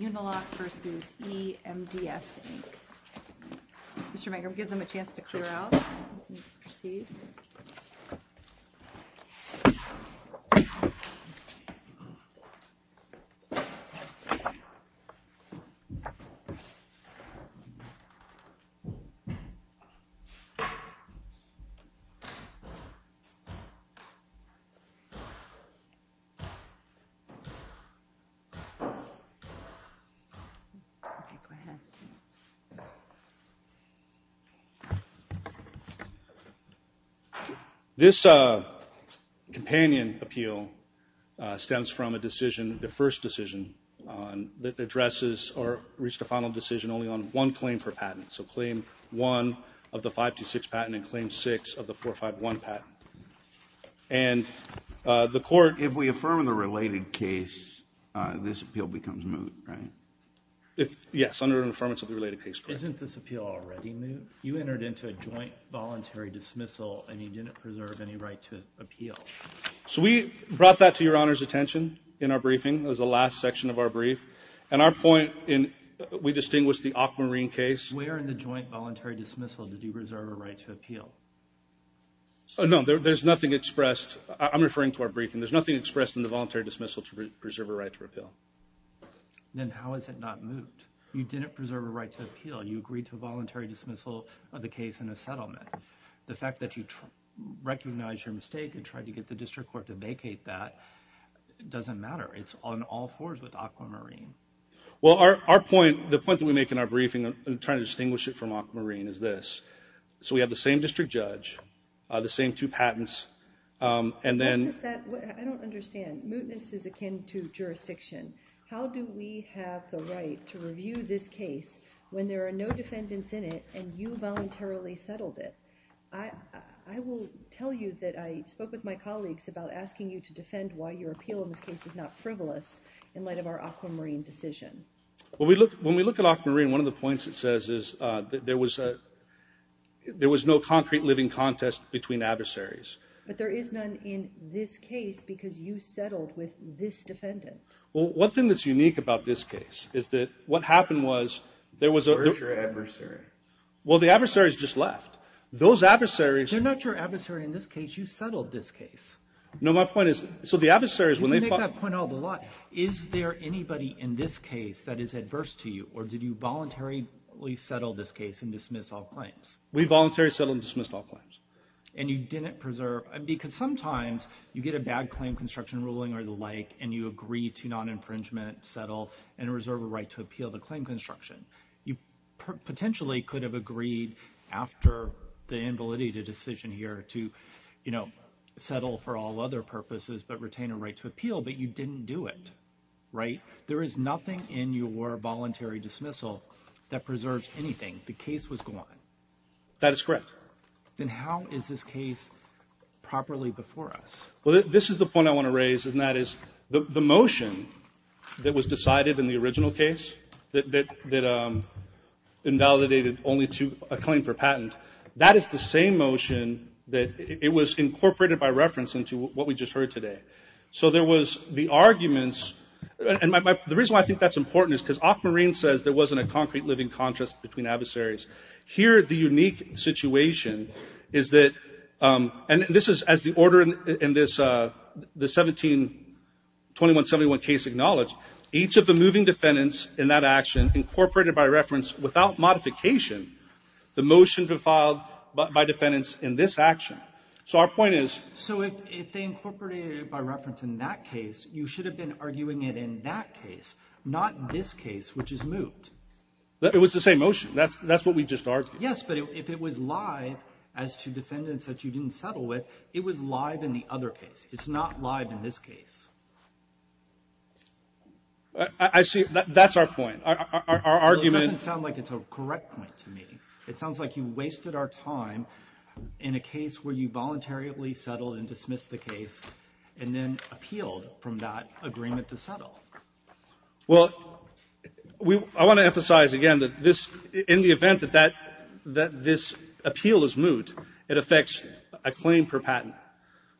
Uniloc vs. E-MDS, Inc. Mr. Mager, we'll give them a chance to clear out. Proceed. Okay, go ahead. This companion appeal stems from a decision, the first decision, that addresses or reached a final decision only on one claim per patent, so Claim 1 of the 526 patent and Claim 6 of the 451 patent. And the court... Yes, under an Affirmative Related Case Clause. Isn't this appeal already moot? You entered into a joint voluntary dismissal, and you didn't preserve any right to appeal. So we brought that to Your Honor's attention in our briefing. It was the last section of our brief. And our point in...we distinguished the Aquamarine case. Where in the joint voluntary dismissal did you preserve a right to appeal? No, there's nothing expressed. I'm referring to our briefing. There's nothing expressed in the voluntary dismissal to preserve a right to appeal. Then how is it not moot? You didn't preserve a right to appeal. You agreed to a voluntary dismissal of the case in a settlement. The fact that you recognized your mistake and tried to get the district court to vacate that doesn't matter. It's on all fours with Aquamarine. Well, our point, the point that we make in our briefing in trying to distinguish it from Aquamarine is this. So we have the same district judge, the same two patents, and then... I don't understand. Mootness is akin to jurisdiction. How do we have the right to review this case when there are no defendants in it and you voluntarily settled it? I will tell you that I spoke with my colleagues about asking you to defend why your appeal in this case is not frivolous in light of our Aquamarine decision. When we look at Aquamarine, one of the points it says is that there was no concrete living contest between adversaries. But there is none in this case because you settled with this defendant. Well, one thing that's unique about this case is that what happened was there was a... Where's your adversary? Well, the adversaries just left. Those adversaries... They're not your adversary in this case. You settled this case. No, my point is, so the adversaries, when they... You make that point all the lot. Is there anybody in this case that is adverse to you or did you voluntarily settle this case and dismiss all claims? We voluntarily settled and dismissed all claims. And you didn't preserve... Because sometimes you get a bad claim construction ruling or the like and you agree to non-infringement, settle, and reserve a right to appeal the claim construction. You potentially could have agreed after the invalidated decision here to settle for all other purposes but retain a right to appeal, but you didn't do it, right? There is nothing in your voluntary dismissal that preserves anything. The case was gone. That is correct. Then how is this case properly before us? Well, this is the point I want to raise, and that is the motion that was decided in the original case that invalidated only to a claim for patent, that is the same motion that it was incorporated by reference into what we just heard today. So there was the arguments, and the reason why I think that's important is because Ock Marine says there wasn't a concrete living contrast between adversaries. Here the unique situation is that, and this is as the order in the 172171 case acknowledged, each of the moving defendants in that action incorporated by reference without modification the motion filed by defendants in this action. So our point is... So if they incorporated it by reference in that case, you should have been arguing it in that case, not this case which is moved. It was the same motion. That's what we just argued. Yes, but if it was live as to defendants that you didn't settle with, it was live in the other case. It's not live in this case. I see. That's our point. Our argument... It doesn't sound like it's a correct point to me. It sounds like you wasted our time in a case where you voluntarily settled and dismissed the case and then appealed from that agreement to settle. Well, I want to emphasize again that this, in the event that this appeal is moved, it affects a claim per patent.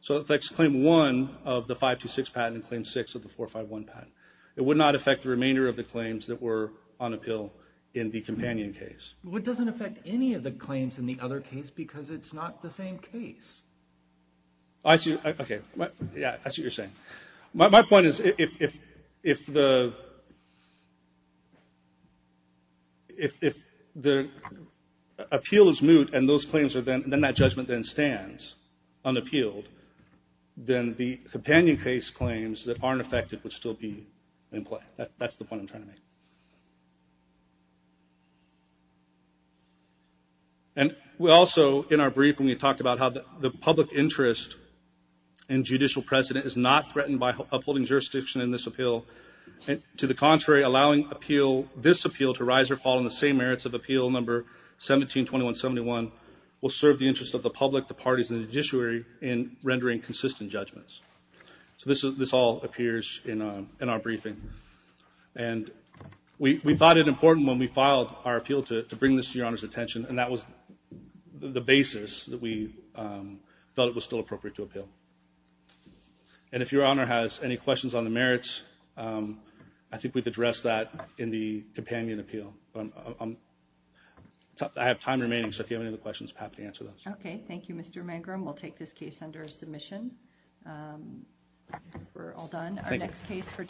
So it affects claim one of the 526 patent and claim six of the 451 patent. It would not affect the remainder of the claims that were on appeal in the companion case. Well, it doesn't affect any of the claims in the other case because it's not the same case. I see. Okay. Yeah, I see what you're saying. My point is if the appeal is moot and then that judgment then stands unappealed, then the companion case claims that aren't affected would still be in play. That's the point I'm trying to make. And we also, in our brief, when we talked about how the public interest in judicial precedent is not threatened by upholding jurisdiction in this appeal, to the contrary, allowing this appeal to rise or fall in the same merits of appeal number 172171 will serve the interest of the public, the parties, and the judiciary in rendering consistent judgments. So this all appears in our briefing. And we thought it important when we filed our appeal to bring this to Your Honor's attention, and that was the basis that we felt it was still appropriate to appeal. And if Your Honor has any questions on the merits, I think we've addressed that in the companion appeal. I have time remaining, so if you have any other questions, I'm happy to answer those. Okay, thank you, Mr. Mangrum. We'll take this case under submission. We're all done. Thank you.